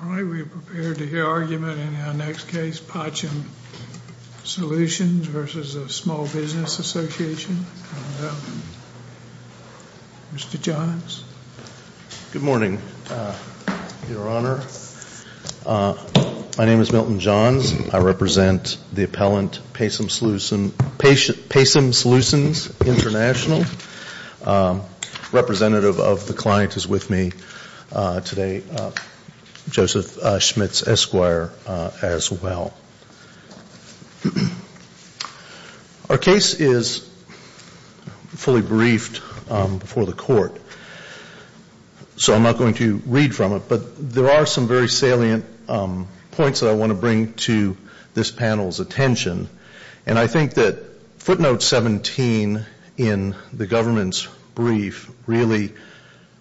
All right, we are prepared to hear argument in our next case, Pacem Solutions v. Small Business Association. Mr. Johns. Good morning, Your Honor. My name is Milton Johns. I represent the appellant, Pacem Solutions International. Representative of the client is with me today, Joseph Schmitz, Esquire, as well. Our case is fully briefed before the court, so I'm not going to read from it. But there are some very salient points that I want to bring to this panel's attention. And I think that footnote 17 in the government's brief really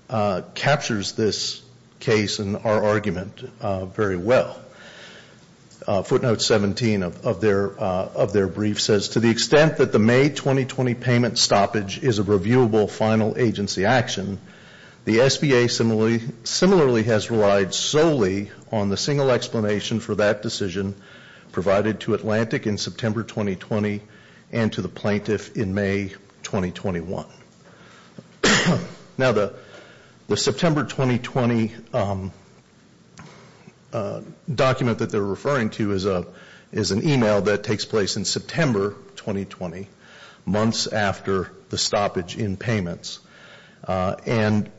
captures this case and our argument very well. Footnote 17 of their brief says, To the extent that the May 2020 payment stoppage is a reviewable final agency action, the SBA similarly has relied solely on the single explanation for that decision provided to Atlantic in September 2020 and to the plaintiff in May 2021. Now, the September 2020 document that they're referring to is an email that takes place in September 2020, months after the stoppage in payments. And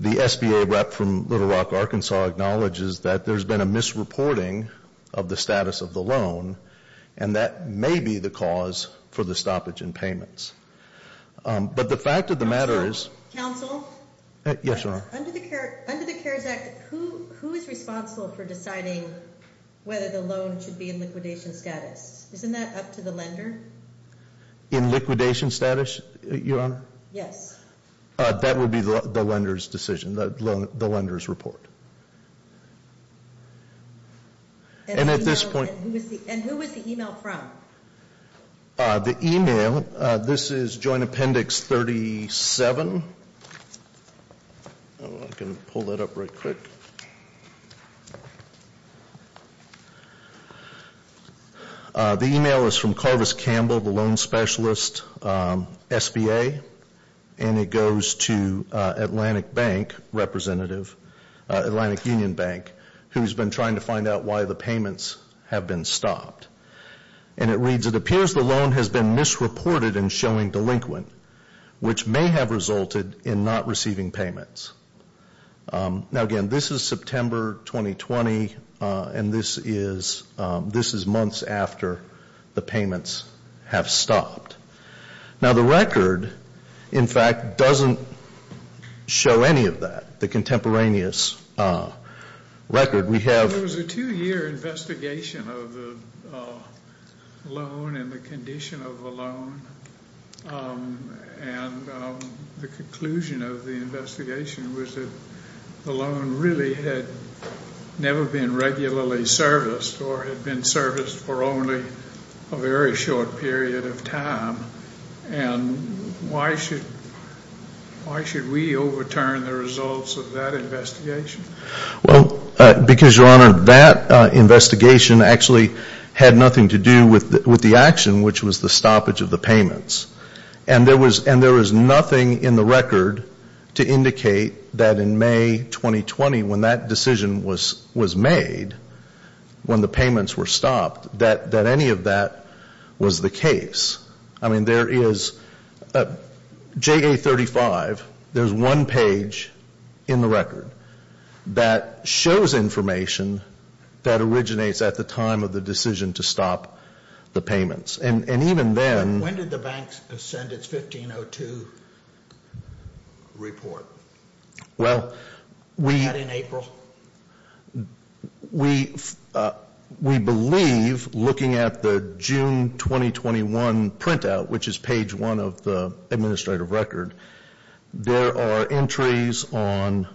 the SBA rep from Little Rock, Arkansas, acknowledges that there's been a misreporting of the status of the loan, and that may be the cause for the stoppage in payments. But the fact of the matter is- Counsel? Yes, Your Honor. Under the CARES Act, who is responsible for deciding whether the loan should be in liquidation status? Isn't that up to the lender? In liquidation status, Your Honor? Yes. That would be the lender's decision, the lender's report. And who was the email from? The email, this is Joint Appendix 37. The email is from Carvis Campbell, the loan specialist, SBA. And it goes to Atlantic Bank representative, Atlantic Union Bank, who's been trying to find out why the payments have been stopped. And it reads, it appears the loan has been misreported and showing delinquent, which may have resulted in not receiving payments. Now, again, this is September 2020, and this is months after the payments have stopped. Now, the record, in fact, doesn't show any of that, the contemporaneous record. There was a two-year investigation of the loan and the condition of the loan. And the conclusion of the investigation was that the loan really had never been regularly serviced or had been serviced for only a very short period of time. And why should we overturn the results of that investigation? Well, because, Your Honor, that investigation actually had nothing to do with the action, which was the stoppage of the payments. And there was nothing in the record to indicate that in May 2020, when that decision was made, when the payments were stopped, that any of that was the case. I mean, there is, JA35, there's one page in the record that shows information that originates at the time of the decision to stop the payments. And even then — When did the banks send its 1502 report? Well, we — That in April? Well, we believe, looking at the June 2021 printout, which is page one of the administrative record, there are entries on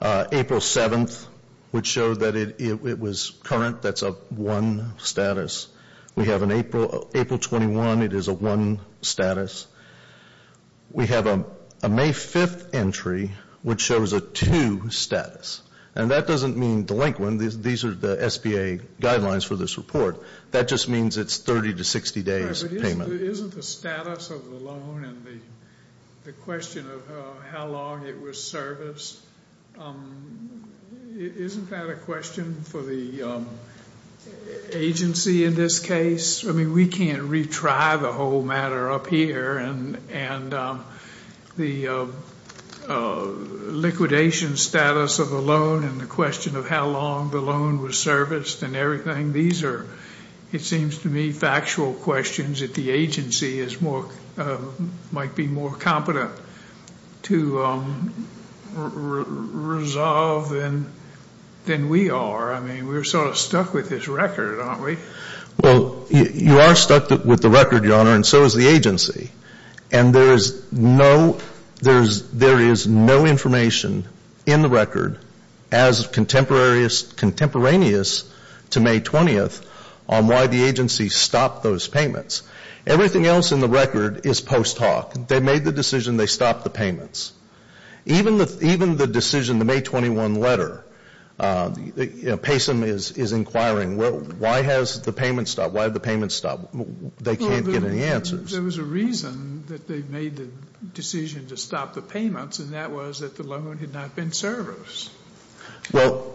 April 7th which show that it was current. That's a one status. We have an April 21. It is a one status. We have a May 5th entry which shows a two status. And that doesn't mean delinquent. These are the SBA guidelines for this report. That just means it's 30 to 60 days payment. But isn't the status of the loan and the question of how long it was serviced, isn't that a question for the agency in this case? I mean, we can't retry the whole matter up here. And the liquidation status of the loan and the question of how long the loan was serviced and everything, these are, it seems to me, factual questions that the agency might be more competent to resolve than we are. I mean, we're sort of stuck with this record, aren't we? Well, you are stuck with the record, Your Honor, and so is the agency. And there is no information in the record as contemporaneous to May 20th on why the agency stopped those payments. Everything else in the record is post hoc. They made the decision. They stopped the payments. Even the decision, the May 21 letter, Payson is inquiring, well, why has the payment stopped? Why have the payments stopped? They can't get any answers. There was a reason that they made the decision to stop the payments, and that was that the loan had not been serviced. Well,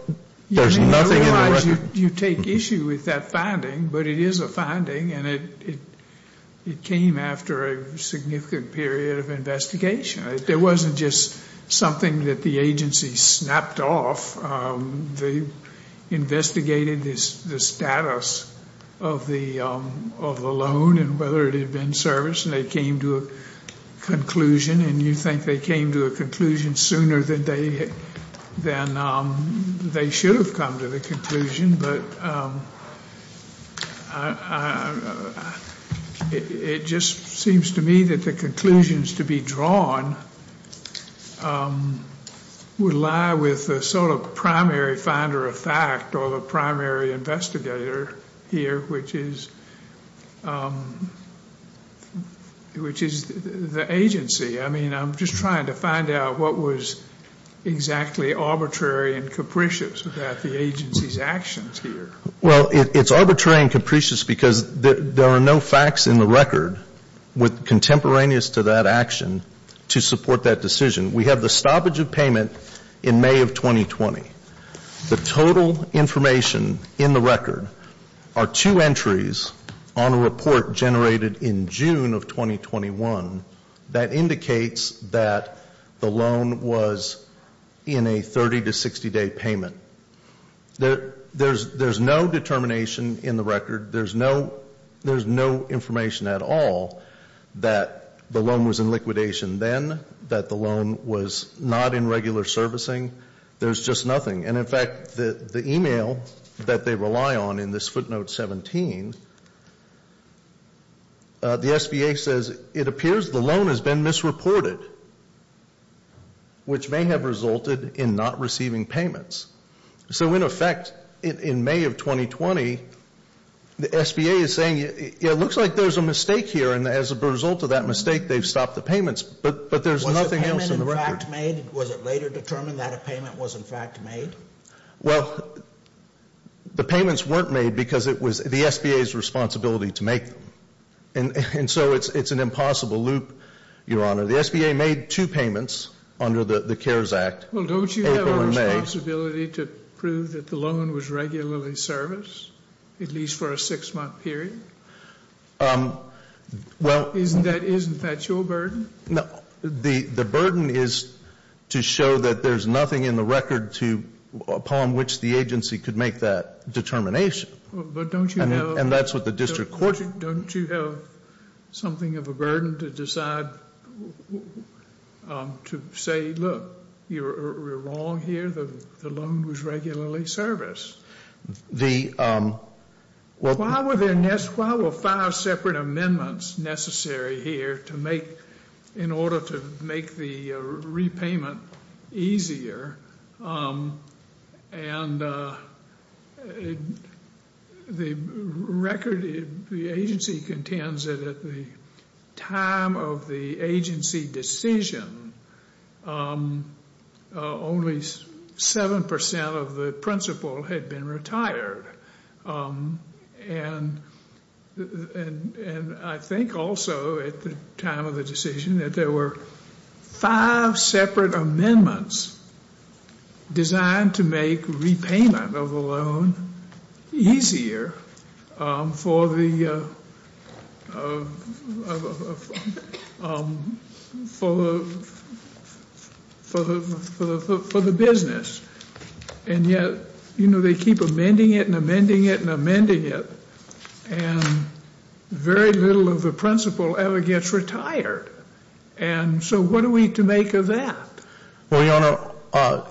there's nothing in the record. You take issue with that finding, but it is a finding, and it came after a significant period of investigation. It wasn't just something that the agency snapped off. They investigated the status of the loan and whether it had been serviced, and they came to a conclusion, and you think they came to a conclusion sooner than they should have come to the conclusion, but it just seems to me that the conclusions to be drawn would lie with the sort of primary finder of fact or the primary investigator here, which is the agency. I mean, I'm just trying to find out what was exactly arbitrary and capricious about the agency's actions here. Well, it's arbitrary and capricious because there are no facts in the record contemporaneous to that action to support that decision. We have the stoppage of payment in May of 2020. The total information in the record are two entries on a report generated in June of 2021 that indicates that the loan was in a 30- to 60-day payment. There's no determination in the record. There's no information at all that the loan was in liquidation then, that the loan was not in regular servicing. There's just nothing, and in fact, the e-mail that they rely on in this footnote 17, the SBA says, it appears the loan has been misreported, which may have resulted in not receiving payments. So in effect, in May of 2020, the SBA is saying, it looks like there's a mistake here, and as a result of that mistake, they've stopped the payments, but there's nothing else in the record. Was the payment in fact made? Was it later determined that a payment was in fact made? Well, the payments weren't made because it was the SBA's responsibility to make them, and so it's an impossible loop, Your Honor. The SBA made two payments under the CARES Act. Well, don't you have a responsibility to prove that the loan was regularly serviced, at least for a six-month period? Isn't that your burden? No, the burden is to show that there's nothing in the record upon which the agency could make that determination. But don't you have And that's what the district court Don't you have something of a burden to decide, to say, look, we're wrong here, the loan was regularly serviced? The Why were five separate amendments necessary here in order to make the repayment easier? And the agency contends that at the time of the agency decision, only 7% of the principal had been retired. And I think also at the time of the decision that there were five separate amendments designed to make repayment of the loan easier for the business. And yet, you know, they keep amending it and amending it and amending it, and very little of the principal ever gets retired. And so what are we to make of that? Well, Your Honor,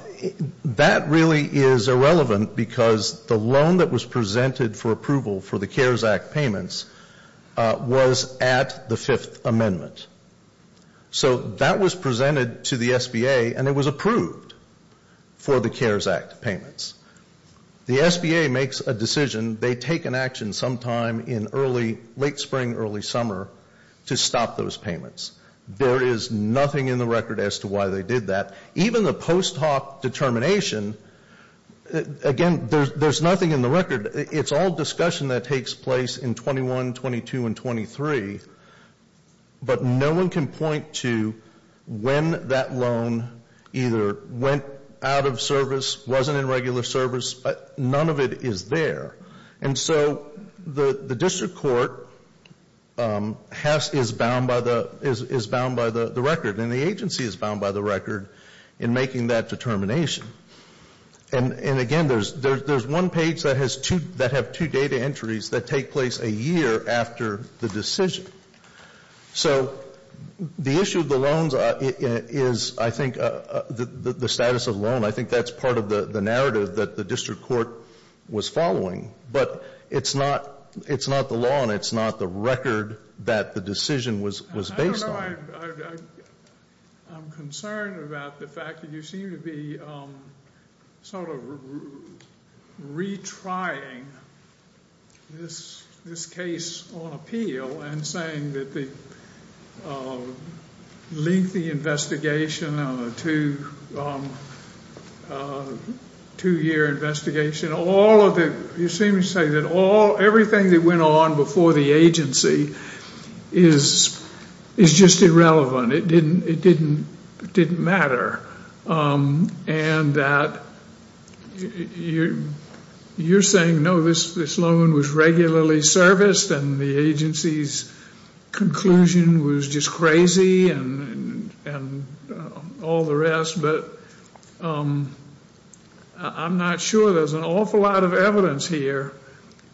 that really is irrelevant because the loan that was presented for approval for the CARES Act payments was at the Fifth Amendment. So that was presented to the SBA, and it was approved for the CARES Act payments. The SBA makes a decision. They take an action sometime in early late spring, early summer to stop those payments. There is nothing in the record as to why they did that. Even the post hoc determination, again, there's nothing in the record. It's all discussion that takes place in 21, 22, and 23. But no one can point to when that loan either went out of service, wasn't in regular service, but none of it is there. And so the district court is bound by the record, and the agency is bound by the record in making that determination. And, again, there's one page that has two data entries that take place a year after the decision. So the issue of the loans is, I think, the status of the loan. I think that's part of the narrative that the district court was following. But it's not the law, and it's not the record that the decision was based on. I'm concerned about the fact that you seem to be sort of retrying this case on appeal and saying that the lengthy investigation on a two-year investigation, you seem to say that everything that went on before the agency is just irrelevant. It didn't matter. And that you're saying, no, this loan was regularly serviced, and the agency's conclusion was just crazy and all the rest. But I'm not sure. There's an awful lot of evidence here,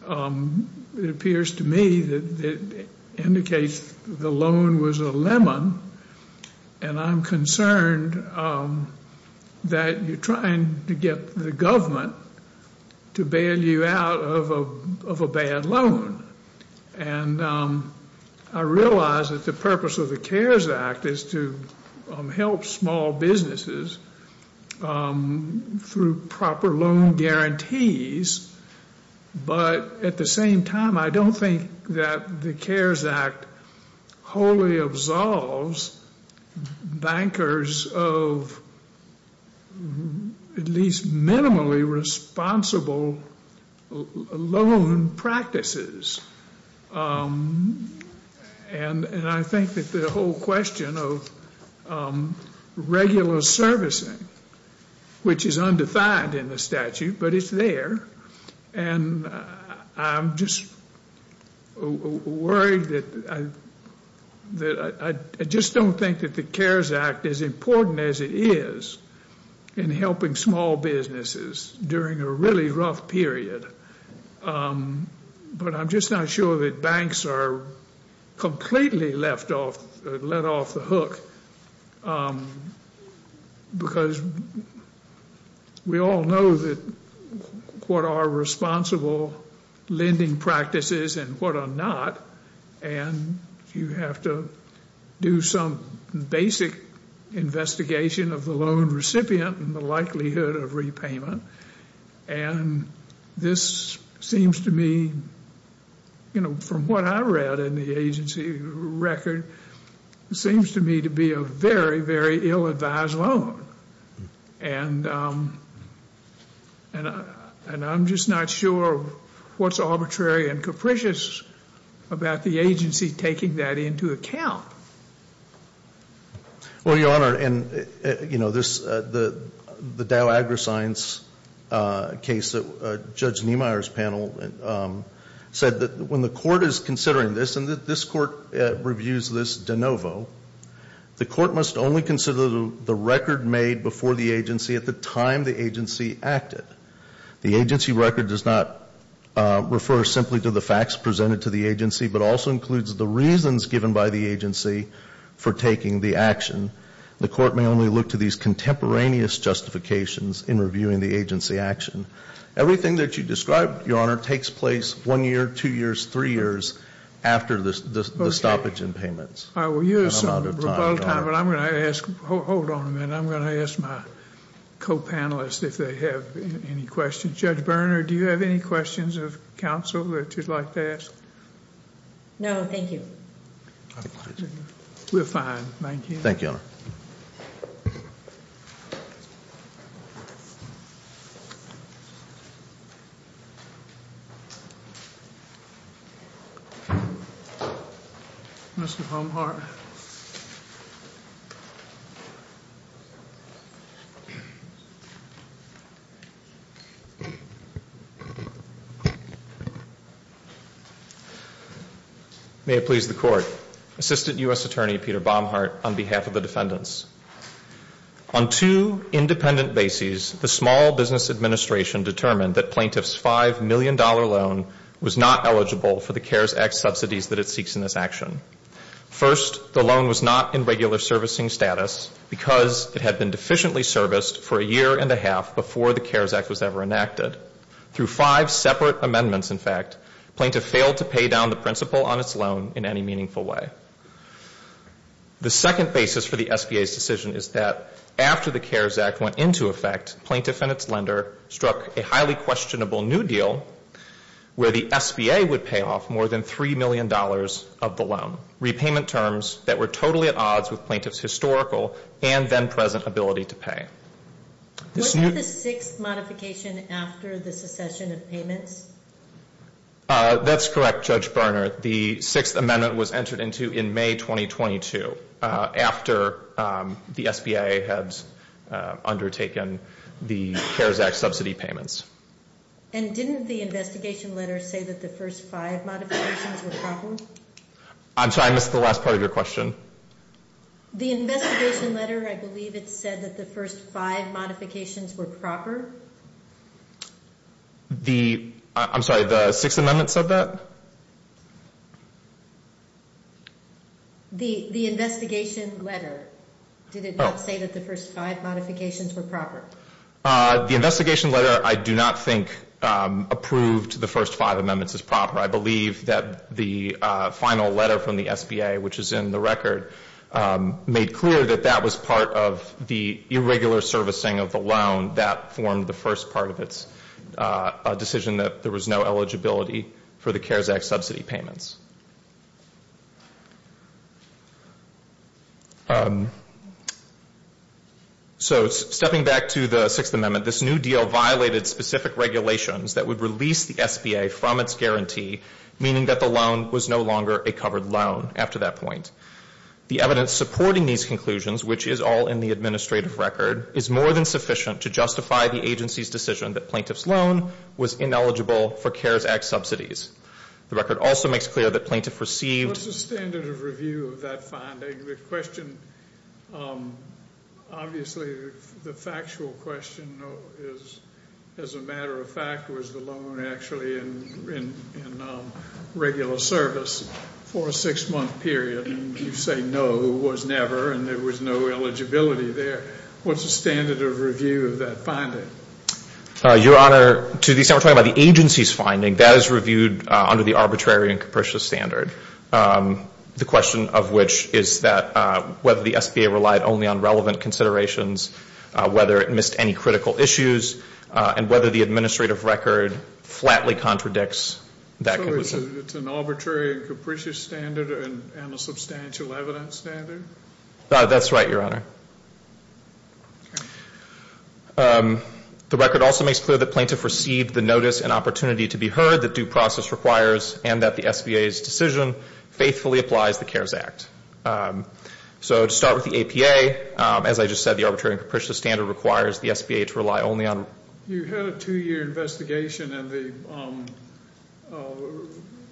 it appears to me, that indicates the loan was a lemon. And I'm concerned that you're trying to get the government to bail you out of a bad loan. And I realize that the purpose of the CARES Act is to help small businesses through proper loan guarantees. But at the same time, I don't think that the CARES Act wholly absolves bankers of at least minimally responsible loan practices. And I think that the whole question of regular servicing, which is undefined in the statute, but it's there. And I'm just worried that I just don't think that the CARES Act is important as it is in helping small businesses during a really rough period. But I'm just not sure that banks are completely let off the hook. Because we all know what are responsible lending practices and what are not. And you have to do some basic investigation of the loan recipient and the likelihood of repayment. And this seems to me, you know, from what I read in the agency record, seems to me to be a very, very ill-advised loan. And I'm just not sure what's arbitrary and capricious about the agency taking that into account. Well, Your Honor, and, you know, the Dow AgriScience case, Judge Niemeyer's panel said that when the court is considering this, and this court reviews this de novo, the court must only consider the record made before the agency at the time the agency acted. The agency record does not refer simply to the facts presented to the agency, but also includes the reasons given by the agency for taking the action. The court may only look to these contemporaneous justifications in reviewing the agency action. Everything that you described, Your Honor, takes place one year, two years, three years after the stoppage in payments. I will use some rebuttal time, but I'm going to ask, hold on a minute, I'm going to ask my co-panelists if they have any questions. Judge Berner, do you have any questions of counsel that you'd like to ask? No, thank you. We're fine, thank you. Thank you, Your Honor. Mr. Homehart. May it please the Court. Assistant U.S. Attorney Peter Baumhart on behalf of the defendants. On two independent bases, the Small Business Administration determined that plaintiff's $5 million loan was not eligible for the CARES Act subsidies that it seeks in this action. First, the loan was not in regular servicing status because it had been deficiently serviced for a year and a half before the CARES Act was ever enacted. Through five separate amendments, in fact, plaintiff failed to pay down the principal on its loan in any meaningful way. The second basis for the SBA's decision is that after the CARES Act went into effect, plaintiff and its lender struck a highly questionable new deal where the SBA would pay off more than $3 million of the loan, repayment terms that were totally at odds with plaintiff's historical and then present ability to pay. What is the sixth modification after the secession of payments? That's correct, Judge Berner. The sixth amendment was entered into in May 2022 after the SBA had undertaken the CARES Act subsidy payments. And didn't the investigation letter say that the first five modifications were proper? I'm sorry, I missed the last part of your question. The investigation letter, I believe it said that the first five modifications were proper. The, I'm sorry, the sixth amendment said that? The investigation letter, did it not say that the first five modifications were proper? The investigation letter I do not think approved the first five amendments as proper. I believe that the final letter from the SBA, which is in the record, made clear that that was part of the irregular servicing of the loan that formed the first part of its decision, that there was no eligibility for the CARES Act subsidy payments. So stepping back to the sixth amendment, this new deal violated specific regulations that would release the SBA from its guarantee, meaning that the loan was no longer a covered loan after that point. The evidence supporting these conclusions, which is all in the administrative record, is more than sufficient to justify the agency's decision that plaintiff's loan was ineligible for CARES Act subsidies. The record also makes clear that plaintiff received... What's the standard of review of that finding? The question, obviously the factual question is, as a matter of fact, was the loan actually in regular service for a six-month period? And you say no, it was never, and there was no eligibility there. What's the standard of review of that finding? Your Honor, to the extent we're talking about the agency's finding, that is reviewed under the arbitrary and capricious standard. The question of which is that whether the SBA relied only on relevant considerations, whether it missed any critical issues, and whether the administrative record flatly contradicts that conclusion. So it's an arbitrary and capricious standard and a substantial evidence standard? That's right, Your Honor. The record also makes clear that plaintiff received the notice and opportunity to be heard that due process requires and that the SBA's decision faithfully applies the CARES Act. So to start with the APA, as I just said, the arbitrary and capricious standard requires the SBA to rely only on... You had a two-year investigation and the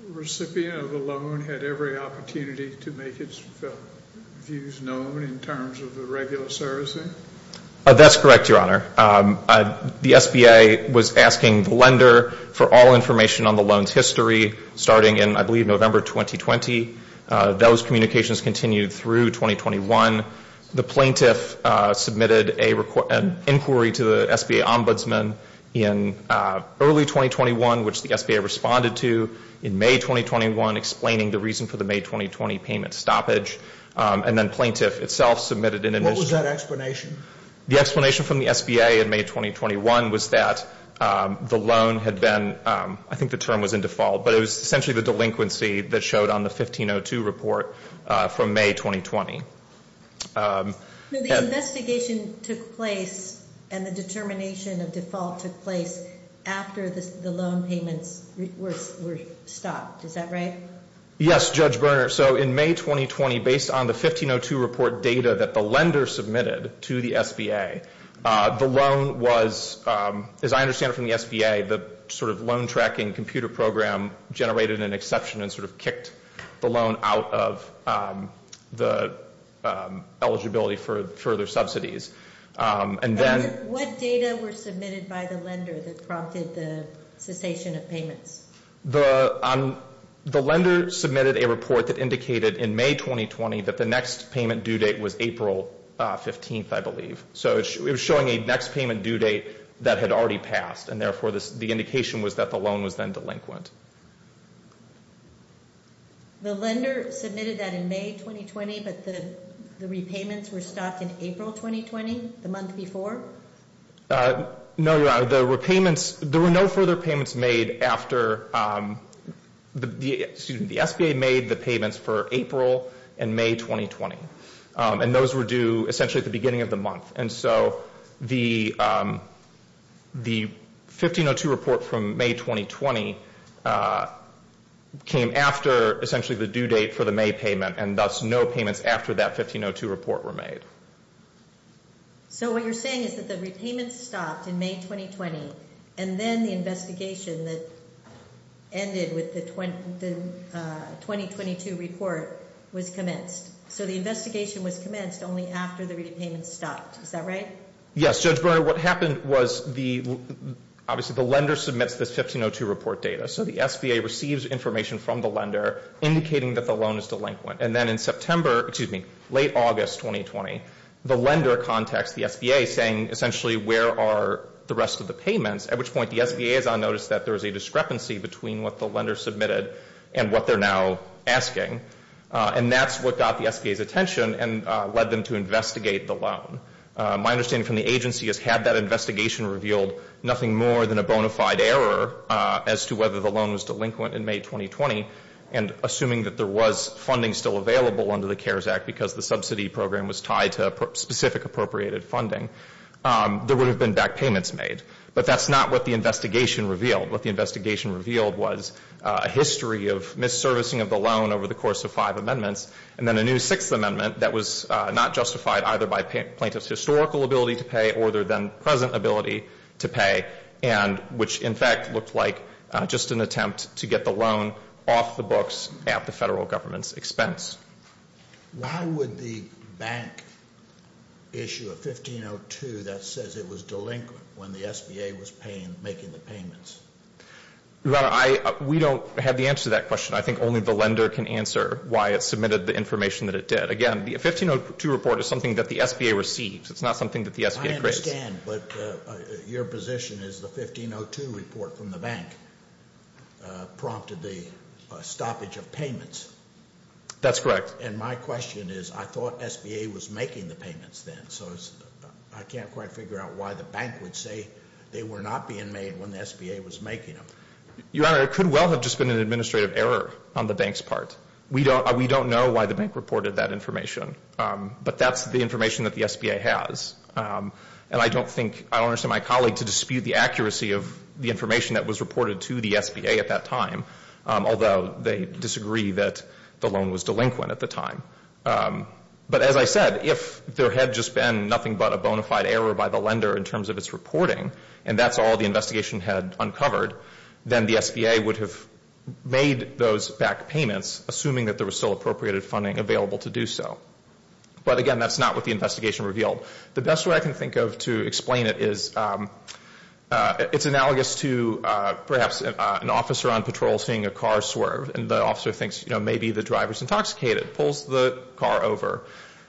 recipient of the loan had every opportunity to make its views known in terms of the regular servicing? That's correct, Your Honor. The SBA was asking the lender for all information on the loan's history, starting in, I believe, November 2020. Those communications continued through 2021. The plaintiff submitted an inquiry to the SBA ombudsman in early 2021, which the SBA responded to in May 2021, explaining the reason for the May 2020 payment stoppage. And then plaintiff itself submitted... What was that explanation? The explanation from the SBA in May 2021 was that the loan had been... I think the term was in default, but it was essentially the delinquency that showed on the 1502 report from May 2020. The investigation took place and the determination of default took place after the loan payments were stopped. Is that right? Yes, Judge Berner. So in May 2020, based on the 1502 report data that the lender submitted to the SBA, the loan was, as I understand it from the SBA, the sort of loan tracking computer program generated an exception and sort of kicked the loan out of the eligibility for further subsidies. What data were submitted by the lender that prompted the cessation of payments? The lender submitted a report that indicated in May 2020 that the next payment due date was April 15th, I believe. So it was showing a next payment due date that had already passed, and therefore the indication was that the loan was then delinquent. The lender submitted that in May 2020, but the repayments were stopped in April 2020, the month before? No, you're right. The repayments, there were no further payments made after, excuse me, the SBA made the payments for April and May 2020. And those were due essentially at the beginning of the month. And so the 1502 report from May 2020 came after essentially the due date for the May payment, and thus no payments after that 1502 report were made. So what you're saying is that the repayments stopped in May 2020, and then the investigation that ended with the 2022 report was commenced. So the investigation was commenced only after the repayments stopped. Is that right? Yes, Judge Brewer. What happened was obviously the lender submits this 1502 report data, so the SBA receives information from the lender indicating that the loan is delinquent. And then in September, excuse me, late August 2020, the lender contacts the SBA saying essentially where are the rest of the payments, at which point the SBA is on notice that there is a discrepancy between what the lender submitted and what they're now asking. And that's what got the SBA's attention and led them to investigate the loan. My understanding from the agency is had that investigation revealed nothing more than a bona fide error as to whether the loan was delinquent in May 2020, and assuming that there was funding still available under the CARES Act because the subsidy program was tied to specific appropriated funding, there would have been back payments made. But that's not what the investigation revealed. What the investigation revealed was a history of misservicing of the loan over the course of five amendments, and then a new sixth amendment that was not justified either by plaintiff's historical ability to pay or their then present ability to pay, which in fact looked like just an attempt to get the loan off the books at the federal government's expense. Why would the bank issue a 1502 that says it was delinquent when the SBA was making the payments? Your Honor, we don't have the answer to that question. I think only the lender can answer why it submitted the information that it did. Again, the 1502 report is something that the SBA receives. It's not something that the SBA creates. I understand, but your position is the 1502 report from the bank prompted the stoppage of payments. That's correct. And my question is I thought SBA was making the payments then, so I can't quite figure out why the bank would say they were not being made when the SBA was making them. Your Honor, it could well have just been an administrative error on the bank's part. We don't know why the bank reported that information, but that's the information that the SBA has. And I don't think, I don't understand my colleague to dispute the accuracy of the information that was reported to the SBA at that time, although they disagree that the loan was delinquent at the time. But as I said, if there had just been nothing but a bona fide error by the lender in terms of its reporting and that's all the investigation had uncovered, then the SBA would have made those back payments, assuming that there was still appropriated funding available to do so. But again, that's not what the investigation revealed. The best way I can think of to explain it is it's analogous to perhaps an officer on patrol seeing a car swerve and the officer thinks, you know, maybe the driver's intoxicated, pulls the car over.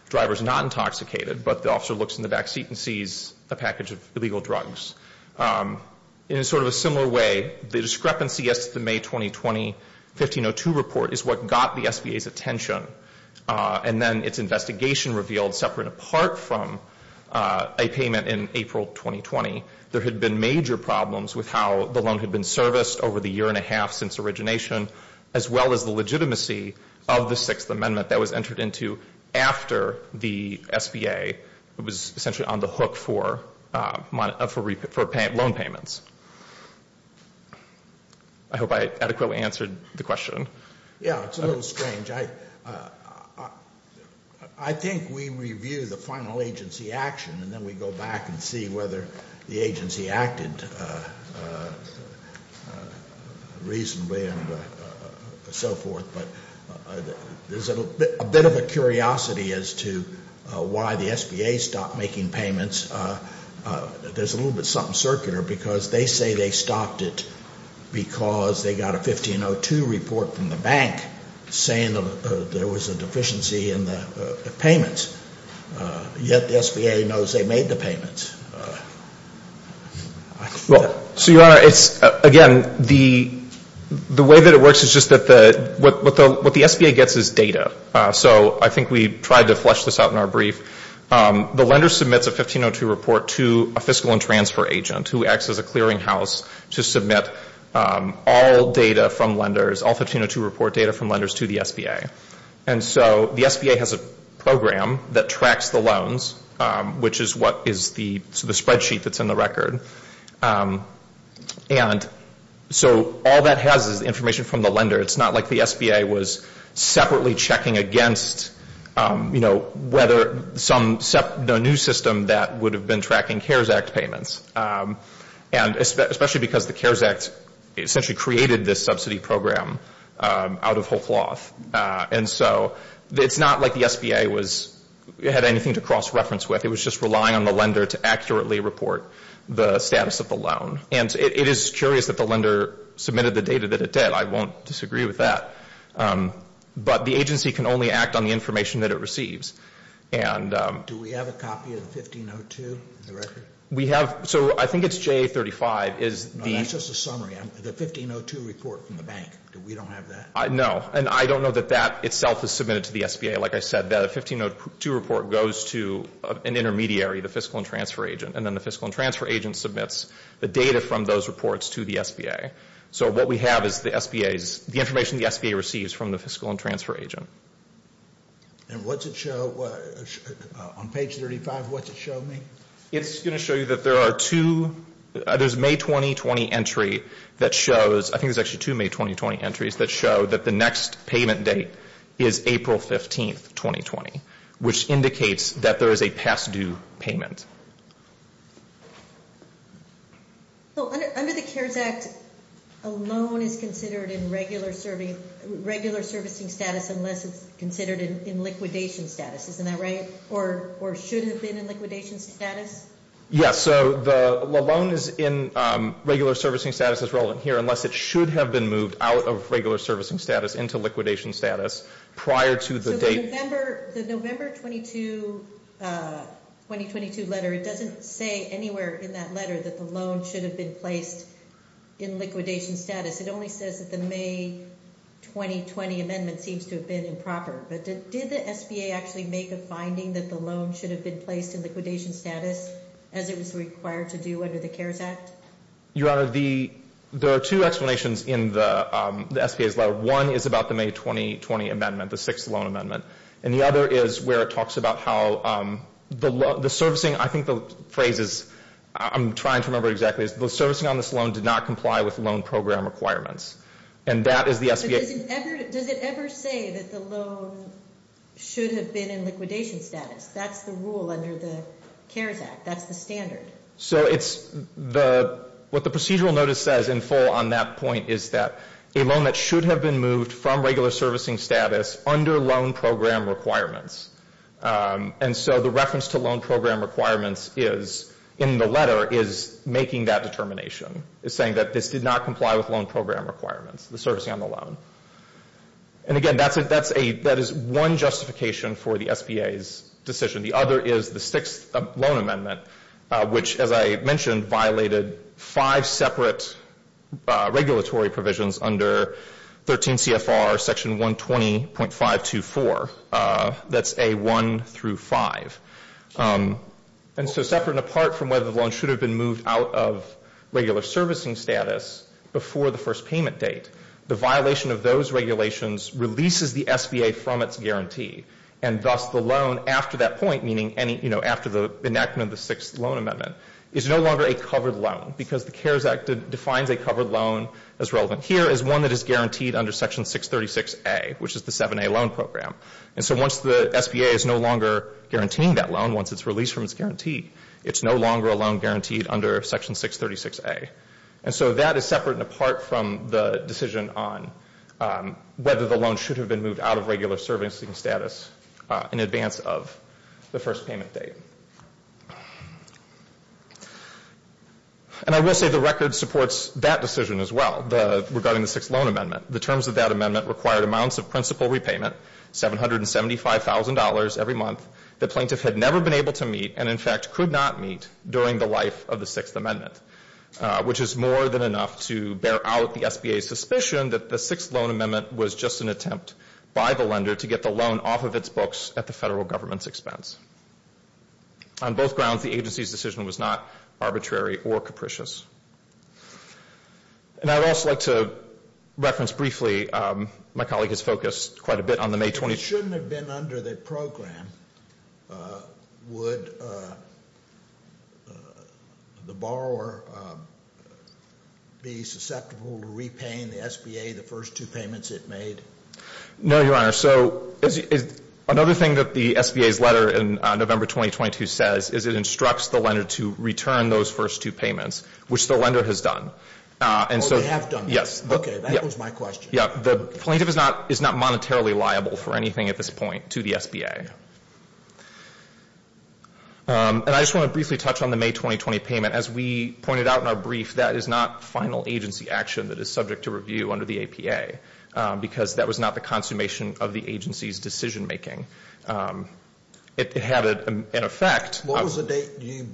The driver's not intoxicated, but the officer looks in the back seat and sees a package of illegal drugs. In sort of a similar way, the discrepancy as to the May 2020 1502 report is what got the SBA's attention. And then its investigation revealed, separate and apart from a payment in April 2020, there had been major problems with how the loan had been serviced over the year and a half since origination, as well as the legitimacy of the Sixth Amendment that was entered into after the SBA was essentially on the hook for loan payments. I hope I adequately answered the question. Yeah, it's a little strange. I think we review the final agency action and then we go back and see whether the agency acted reasonably and so forth. But there's a bit of a curiosity as to why the SBA stopped making payments. There's a little bit of something circular because they say they stopped it because they got a 1502 report from the bank saying there was a deficiency in the payments, yet the SBA knows they made the payments. Well, so, Your Honor, again, the way that it works is just that what the SBA gets is data. So I think we tried to flesh this out in our brief. The lender submits a 1502 report to a fiscal and transfer agent who acts as a clearinghouse to submit all data from lenders, all 1502 report data from lenders to the SBA. And so the SBA has a program that tracks the loans, which is what is the spreadsheet that's in the record. And so all that has is information from the lender. It's not like the SBA was separately checking against, you know, whether some new system that would have been tracking CARES Act payments, and especially because the CARES Act essentially created this subsidy program out of whole cloth. And so it's not like the SBA had anything to cross-reference with. It was just relying on the lender to accurately report the status of the loan. And it is curious that the lender submitted the data that it did. I won't disagree with that. But the agency can only act on the information that it receives. Do we have a copy of 1502 in the record? We have. So I think it's JA35. No, that's just a summary. The 1502 report from the bank. We don't have that. No. And I don't know that that itself is submitted to the SBA. Like I said, the 1502 report goes to an intermediary, the fiscal and transfer agent. And then the fiscal and transfer agent submits the data from those reports to the SBA. So what we have is the SBA's, the information the SBA receives from the fiscal and transfer agent. And what's it show? On page 35, what's it show me? It's going to show you that there are two, there's a May 2020 entry that shows, I think there's actually two May 2020 entries that show that the next payment date is April 15, 2020, which indicates that there is a past due payment. Under the CARES Act, a loan is considered in regular servicing status unless it's considered in liquidation status. Isn't that right? Or should it have been in liquidation status? So the loan is in regular servicing status as relevant here, unless it should have been moved out of regular servicing status into liquidation status prior to the date. So the November 2022 letter, it doesn't say anywhere in that letter that the loan should have been placed in liquidation status. It only says that the May 2020 amendment seems to have been improper. But did the SBA actually make a finding that the loan should have been placed in liquidation status as it was required to do under the CARES Act? Your Honor, there are two explanations in the SBA's letter. One is about the May 2020 amendment, the sixth loan amendment. And the other is where it talks about how the servicing, I think the phrase is, I'm trying to remember exactly, is the servicing on this loan did not comply with loan program requirements. And that is the SBA. Does it ever say that the loan should have been in liquidation status? That's the rule under the CARES Act. That's the standard. So it's the, what the procedural notice says in full on that point is that a loan that should have been moved from regular servicing status under loan program requirements. And so the reference to loan program requirements is in the letter is making that determination. It's saying that this did not comply with loan program requirements, the servicing on the loan. And again, that's a, that is one justification for the SBA's decision. The other is the sixth loan amendment, which, as I mentioned, violated five separate regulatory provisions under 13 CFR section 120.524. That's a one through five. And so separate and apart from whether the loan should have been moved out of regular servicing status before the first payment date, the violation of those regulations releases the SBA from its guarantee. And thus the loan after that point, meaning any, you know, after the enactment of the sixth loan amendment is no longer a covered loan because the CARES Act defines a covered loan as relevant. Here is one that is guaranteed under section 636A, which is the 7A loan program. And so once the SBA is no longer guaranteeing that loan, once it's released from its guarantee, it's no longer a loan guaranteed under section 636A. And so that is separate and apart from the decision on whether the loan should have been moved out of regular servicing status in advance of the first payment date. And I will say the record supports that decision as well regarding the sixth loan amendment. The terms of that amendment required amounts of principal repayment, $775,000 every month, that plaintiff had never been able to meet and in fact could not meet during the life of the sixth amendment, which is more than enough to bear out the SBA's suspicion that the sixth loan amendment was just an attempt by the lender to get the loan off of its books at the federal government's expense. On both grounds, the agency's decision was not arbitrary or capricious. And I would also like to reference briefly, my colleague has focused quite a bit on the May 22nd. If it shouldn't have been under the program, would the borrower be susceptible to repaying the SBA the first two payments it made? No, Your Honor. So another thing that the SBA's letter in November 2022 says is it instructs the lender to return those first two payments. Which the lender has done. Oh, they have done that? Yes. Okay, that was my question. The plaintiff is not monetarily liable for anything at this point to the SBA. And I just want to briefly touch on the May 2020 payment. As we pointed out in our brief, that is not final agency action that is subject to review under the APA because that was not the consummation of the agency's decision making. It had an effect. What was the date you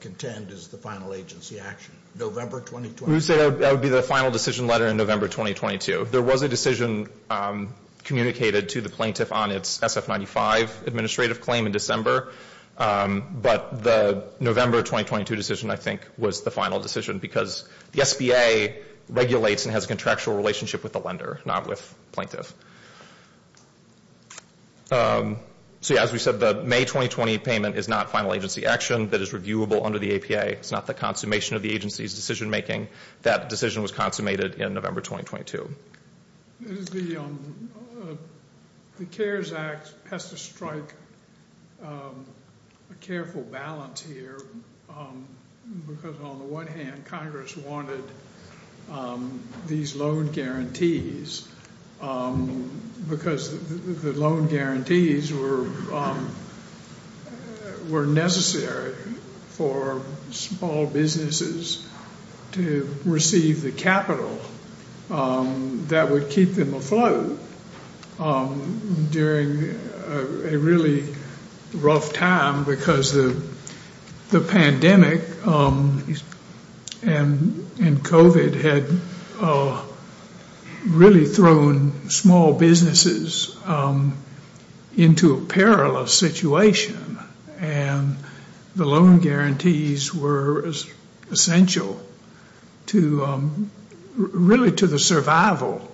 contend is the final agency action? November 2020? I would say that would be the final decision letter in November 2022. There was a decision communicated to the plaintiff on its SF95 administrative claim in December. But the November 2022 decision, I think, was the final decision because the SBA regulates and has a contractual relationship with the lender, not with plaintiff. So, yeah, as we said, the May 2020 payment is not final agency action that is reviewable under the APA. It's not the consummation of the agency's decision making. That decision was consummated in November 2022. The CARES Act has to strike a careful balance here because, on the one hand, Congress wanted these loan guarantees because the loan guarantees were necessary for small businesses to receive the capital that would keep them afloat during a really rough time because the pandemic and COVID had really thrown small businesses into a perilous situation. And the loan guarantees were essential really to the survival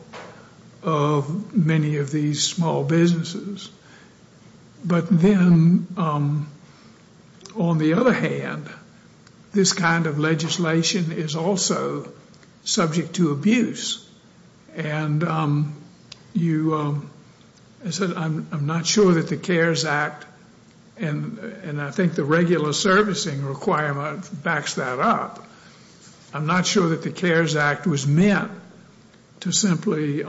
of many of these small businesses. But then, on the other hand, this kind of legislation is also subject to abuse. And I'm not sure that the CARES Act, and I think the regular servicing requirement backs that up, I'm not sure that the CARES Act was meant to simply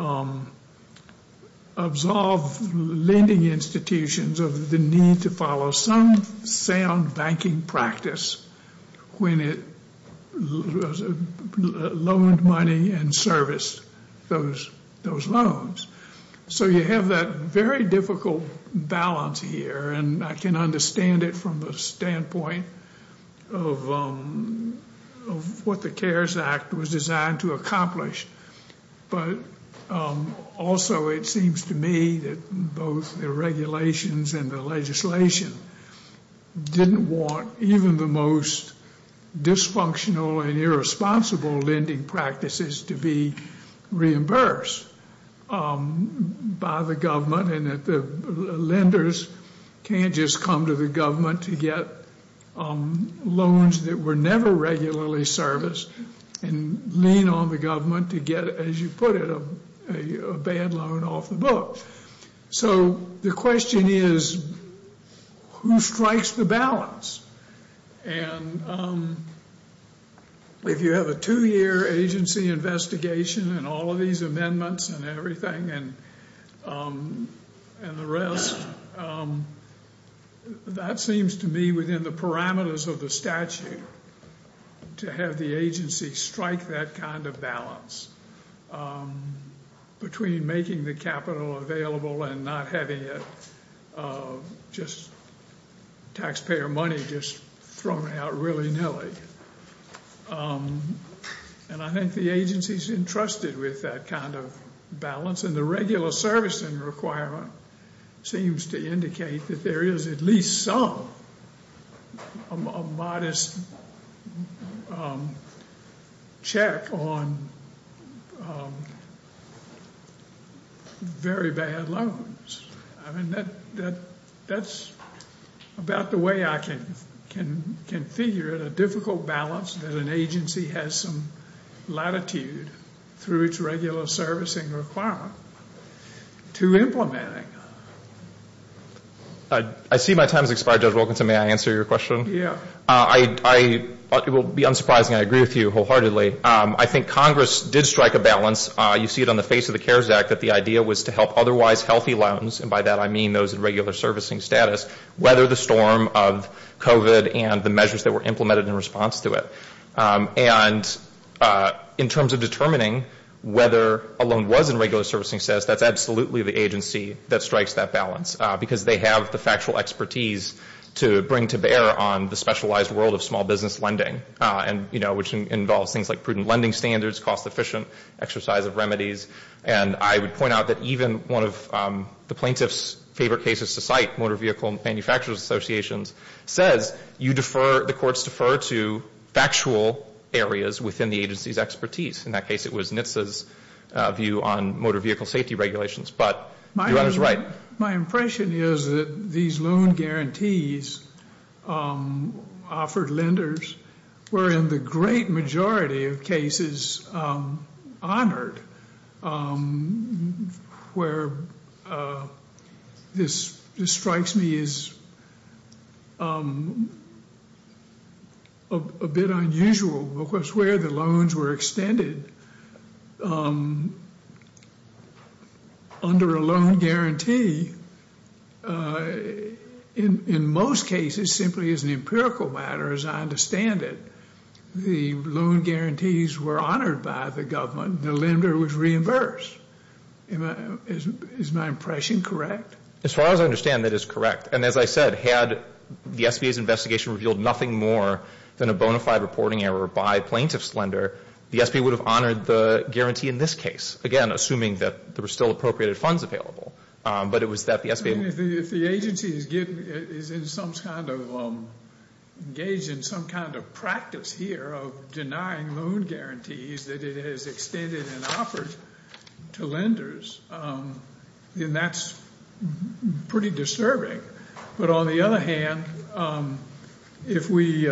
absolve lending institutions of the need to follow some sound banking practice when it loaned money and serviced those loans. So you have that very difficult balance here. And I can understand it from the standpoint of what the CARES Act was designed to accomplish. But also it seems to me that both the regulations and the legislation didn't want even the most dysfunctional and irresponsible lending practices to be reimbursed by the government and that the lenders can't just come to the government to get loans that were never regularly serviced and lean on the government to get, as you put it, a bad loan off the books. So the question is, who strikes the balance? And if you have a two-year agency investigation and all of these amendments and everything and the rest, that seems to me within the parameters of the statute to have the agency strike that kind of balance between making the capital available and not having taxpayer money just thrown out willy-nilly. And I think the agency's entrusted with that kind of balance. And the regular servicing requirement seems to indicate that there is at least some modest check on very bad loans. I mean, that's about the way I can figure it, that an agency has some latitude through its regular servicing requirement to implementing. I see my time has expired, Judge Wilkinson. May I answer your question? Yeah. It will be unsurprising. I agree with you wholeheartedly. I think Congress did strike a balance. You see it on the face of the CARES Act that the idea was to help otherwise healthy loans, and by that I mean those in regular servicing status, whether the storm of COVID and the measures that were implemented in response to it. And in terms of determining whether a loan was in regular servicing status, that's absolutely the agency that strikes that balance, because they have the factual expertise to bring to bear on the specialized world of small business lending, which involves things like prudent lending standards, cost-efficient exercise of remedies. And I would point out that even one of the plaintiff's favorite cases to cite, Motor Vehicle and Manufacturers Associations, says you defer, the courts defer to factual areas within the agency's expertise. In that case, it was NHTSA's view on motor vehicle safety regulations. But your Honor's right. My impression is that these loan guarantees offered lenders were in the great majority of cases honored. Where this strikes me as a bit unusual, of course, where the loans were extended. Under a loan guarantee, in most cases, simply as an empirical matter as I understand it, the loan guarantees were honored by the government. The lender was reimbursed. Is my impression correct? As far as I understand, that is correct. And as I said, had the SBA's investigation revealed nothing more than a bona fide reporting error by plaintiff's lender, the SBA would have honored the guarantee in this case, again, assuming that there were still appropriated funds available. But it was that the SBA... is in some kind of... engaged in some kind of practice here of denying loan guarantees that it has extended and offered to lenders. And that's pretty disturbing. But on the other hand, if we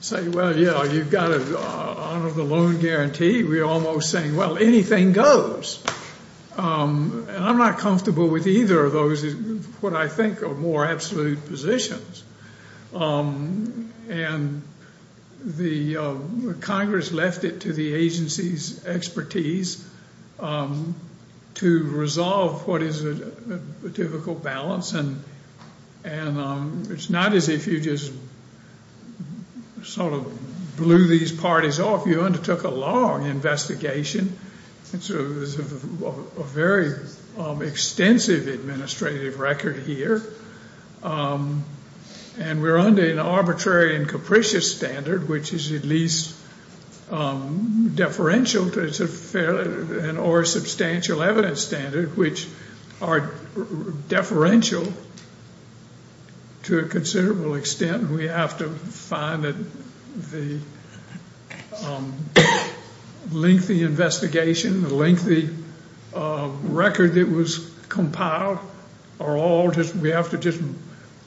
say, well, yeah, you've got to honor the loan guarantee, we're almost saying, well, anything goes. And I'm not comfortable with either of those, what I think are more absolute positions. And the Congress left it to the agency's expertise to resolve what is a typical balance. And it's not as if you just sort of blew these parties off. You undertook a long investigation. And so there's a very extensive administrative record here. And we're under an arbitrary and capricious standard, which is at least deferential or a substantial evidence standard, which are deferential to a considerable extent. And we have to find that the lengthy investigation, the lengthy record that was compiled are all just... we have to just,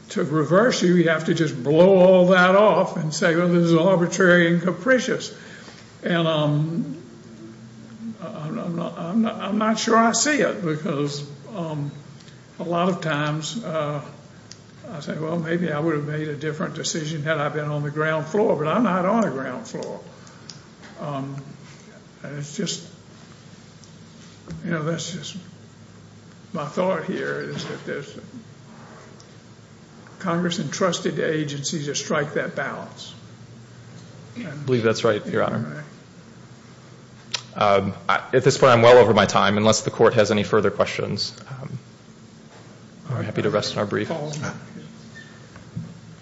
to reverse it, we have to just blow all that off and say, well, this is arbitrary and capricious. And I'm not sure I see it because a lot of times I say, well, maybe I would have made a different decision had I been on the ground floor. But I'm not on the ground floor. It's just, you know, that's just my thought here is that Congress entrusted the agency to strike that balance. I believe that's right, Your Honor. At this point, I'm well over my time, unless the court has any further questions. I'm happy to rest on our brief.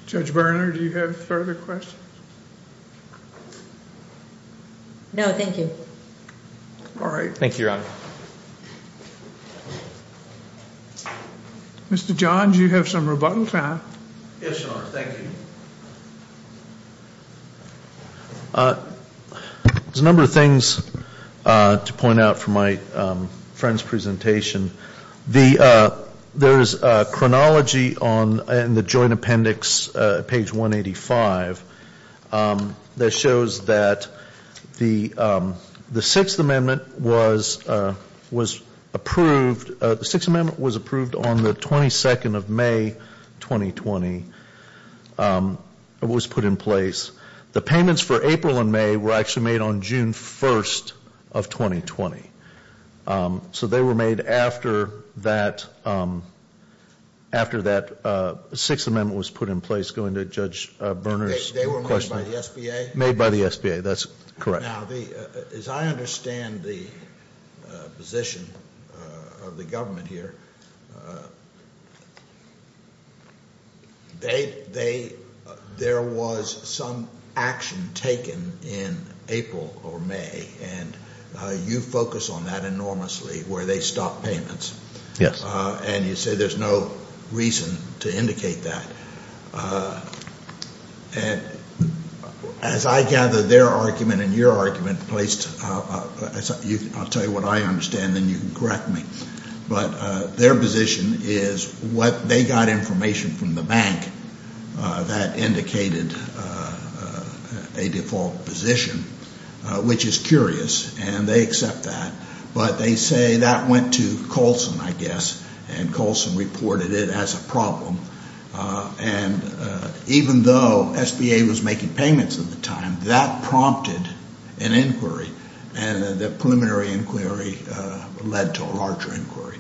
Judge Berner, do you have further questions? No, thank you. All right. Thank you, Your Honor. Mr. John, do you have some rebuttal time? Yes, Your Honor, thank you. There's a number of things to point out from my friend's presentation. There is a chronology in the joint appendix, page 185, that shows that the Sixth Amendment was approved. The Sixth Amendment was approved on the 22nd of May, 2020. It was put in place. The payments for April and May were actually made on June 1st of 2020. So they were made after that Sixth Amendment was put in place. Going to Judge Berner's question. They were made by the SBA? Made by the SBA. That's correct. Now, as I understand the position of the government here, there was some action taken in April or May, and you focus on that enormously, where they stopped payments. Yes. And you say there's no reason to indicate that. As I gather their argument and your argument placed – I'll tell you what I understand, and then you can correct me. But their position is what they got information from the bank that indicated a default position, which is curious, and they accept that. But they say that went to Colson, I guess, and Colson reported it as a problem. And even though SBA was making payments at the time, that prompted an inquiry, and the preliminary inquiry led to a larger inquiry.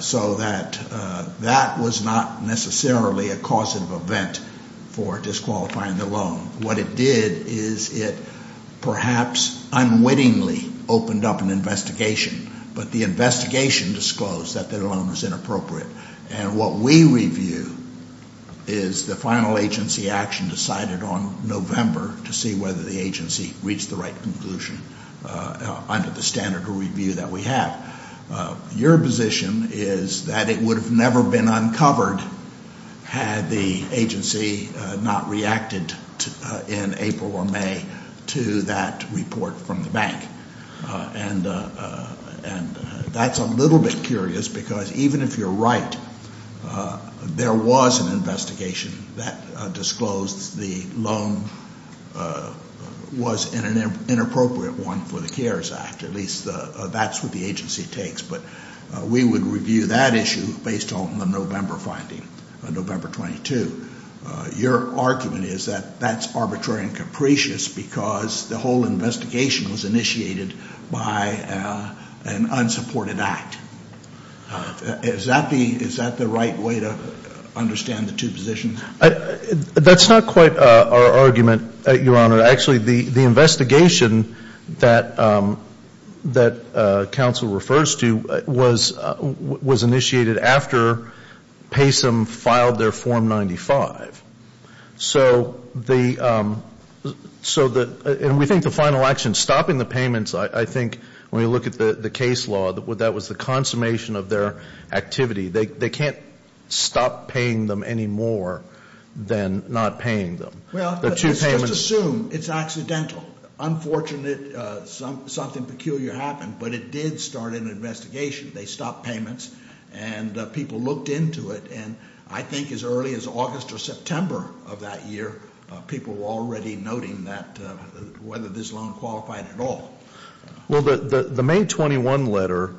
So that was not necessarily a causative event for disqualifying the loan. What it did is it perhaps unwittingly opened up an investigation, but the investigation disclosed that the loan was inappropriate. And what we review is the final agency action decided on November to see whether the agency reached the right conclusion under the standard of review that we have. Your position is that it would have never been uncovered had the agency not reacted in April or May to that report from the bank. And that's a little bit curious, because even if you're right, there was an investigation that disclosed the loan was an inappropriate one for the CARES Act. At least that's what the agency takes. But we would review that issue based on the November finding, November 22. Your argument is that that's arbitrary and capricious because the whole investigation was initiated by an unsupported act. Is that the right way to understand the two positions? That's not quite our argument, Your Honor. Actually, the investigation that counsel refers to was initiated after PASM filed their Form 95. So the ‑‑ and we think the final action stopping the payments, I think, when we look at the case law, that was the consummation of their activity. They can't stop paying them any more than not paying them. Well, let's just assume it's accidental. Unfortunate, something peculiar happened. But it did start an investigation. They stopped payments. And people looked into it. And I think as early as August or September of that year, people were already noting whether this loan qualified at all. Well, the May 21 letter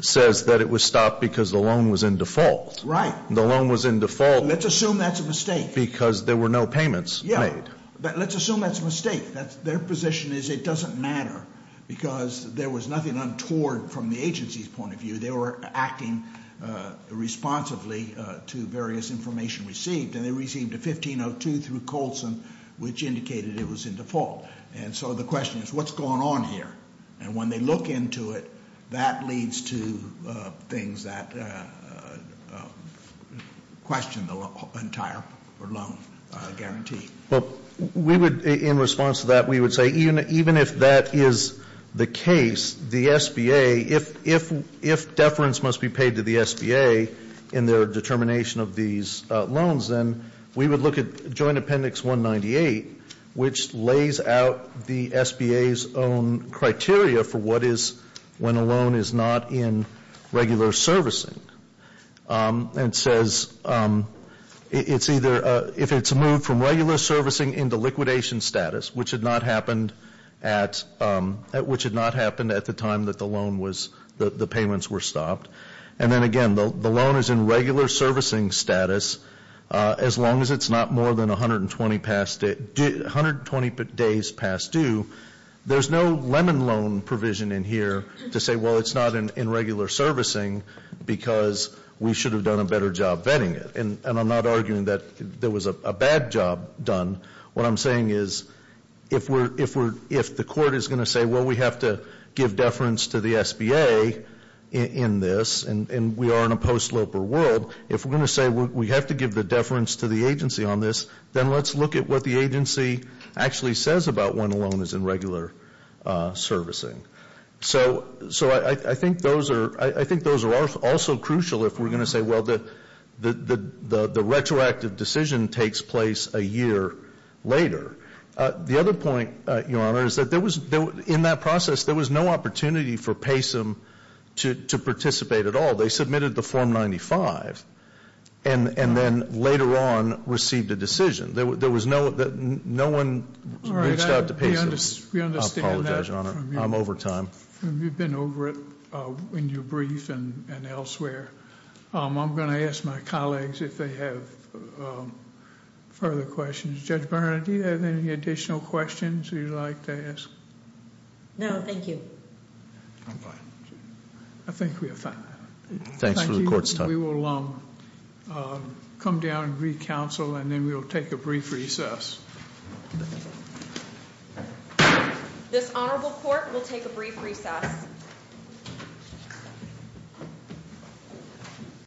says that it was stopped because the loan was in default. Right. The loan was in default. Let's assume that's a mistake. Because there were no payments made. Yeah. Let's assume that's a mistake. Their position is it doesn't matter because there was nothing untoward from the agency's point of view. They were acting responsibly to various information received. And they received a 1502 through Coulson, which indicated it was in default. And so the question is, what's going on here? And when they look into it, that leads to things that question the entire loan guarantee. Well, we would, in response to that, we would say even if that is the case, the SBA, if deference must be paid to the SBA in their determination of these loans, then we would look at Joint Appendix 198, which lays out the SBA's own criteria for what is when a loan is not in regular servicing. And it says it's either, if it's moved from regular servicing into liquidation status, which had not happened at the time that the loan was, the payments were stopped. And then again, the loan is in regular servicing status as long as it's not more than 120 days past due. There's no lemon loan provision in here to say, well, it's not in regular servicing because we should have done a better job vetting it. And I'm not arguing that there was a bad job done. What I'm saying is if the court is going to say, well, we have to give deference to the SBA in this, and we are in a post-sloper world, if we're going to say we have to give the deference to the agency on this, then let's look at what the agency actually says about when a loan is in regular servicing. So I think those are also crucial if we're going to say, well, the retroactive decision takes place a year later. The other point, Your Honor, is that in that process, there was no opportunity for PASM to participate at all. They submitted the Form 95 and then later on received a decision. There was no one reached out to PASM. We understand that. I'm over time. You've been over it in your brief and elsewhere. I'm going to ask my colleagues if they have further questions. Judge Barnett, do you have any additional questions you'd like to ask? No, thank you. I'm fine. I think we have time. Thanks for the court's time. We will come down and re-counsel and then we'll take a brief recess. This honorable court will take a brief recess.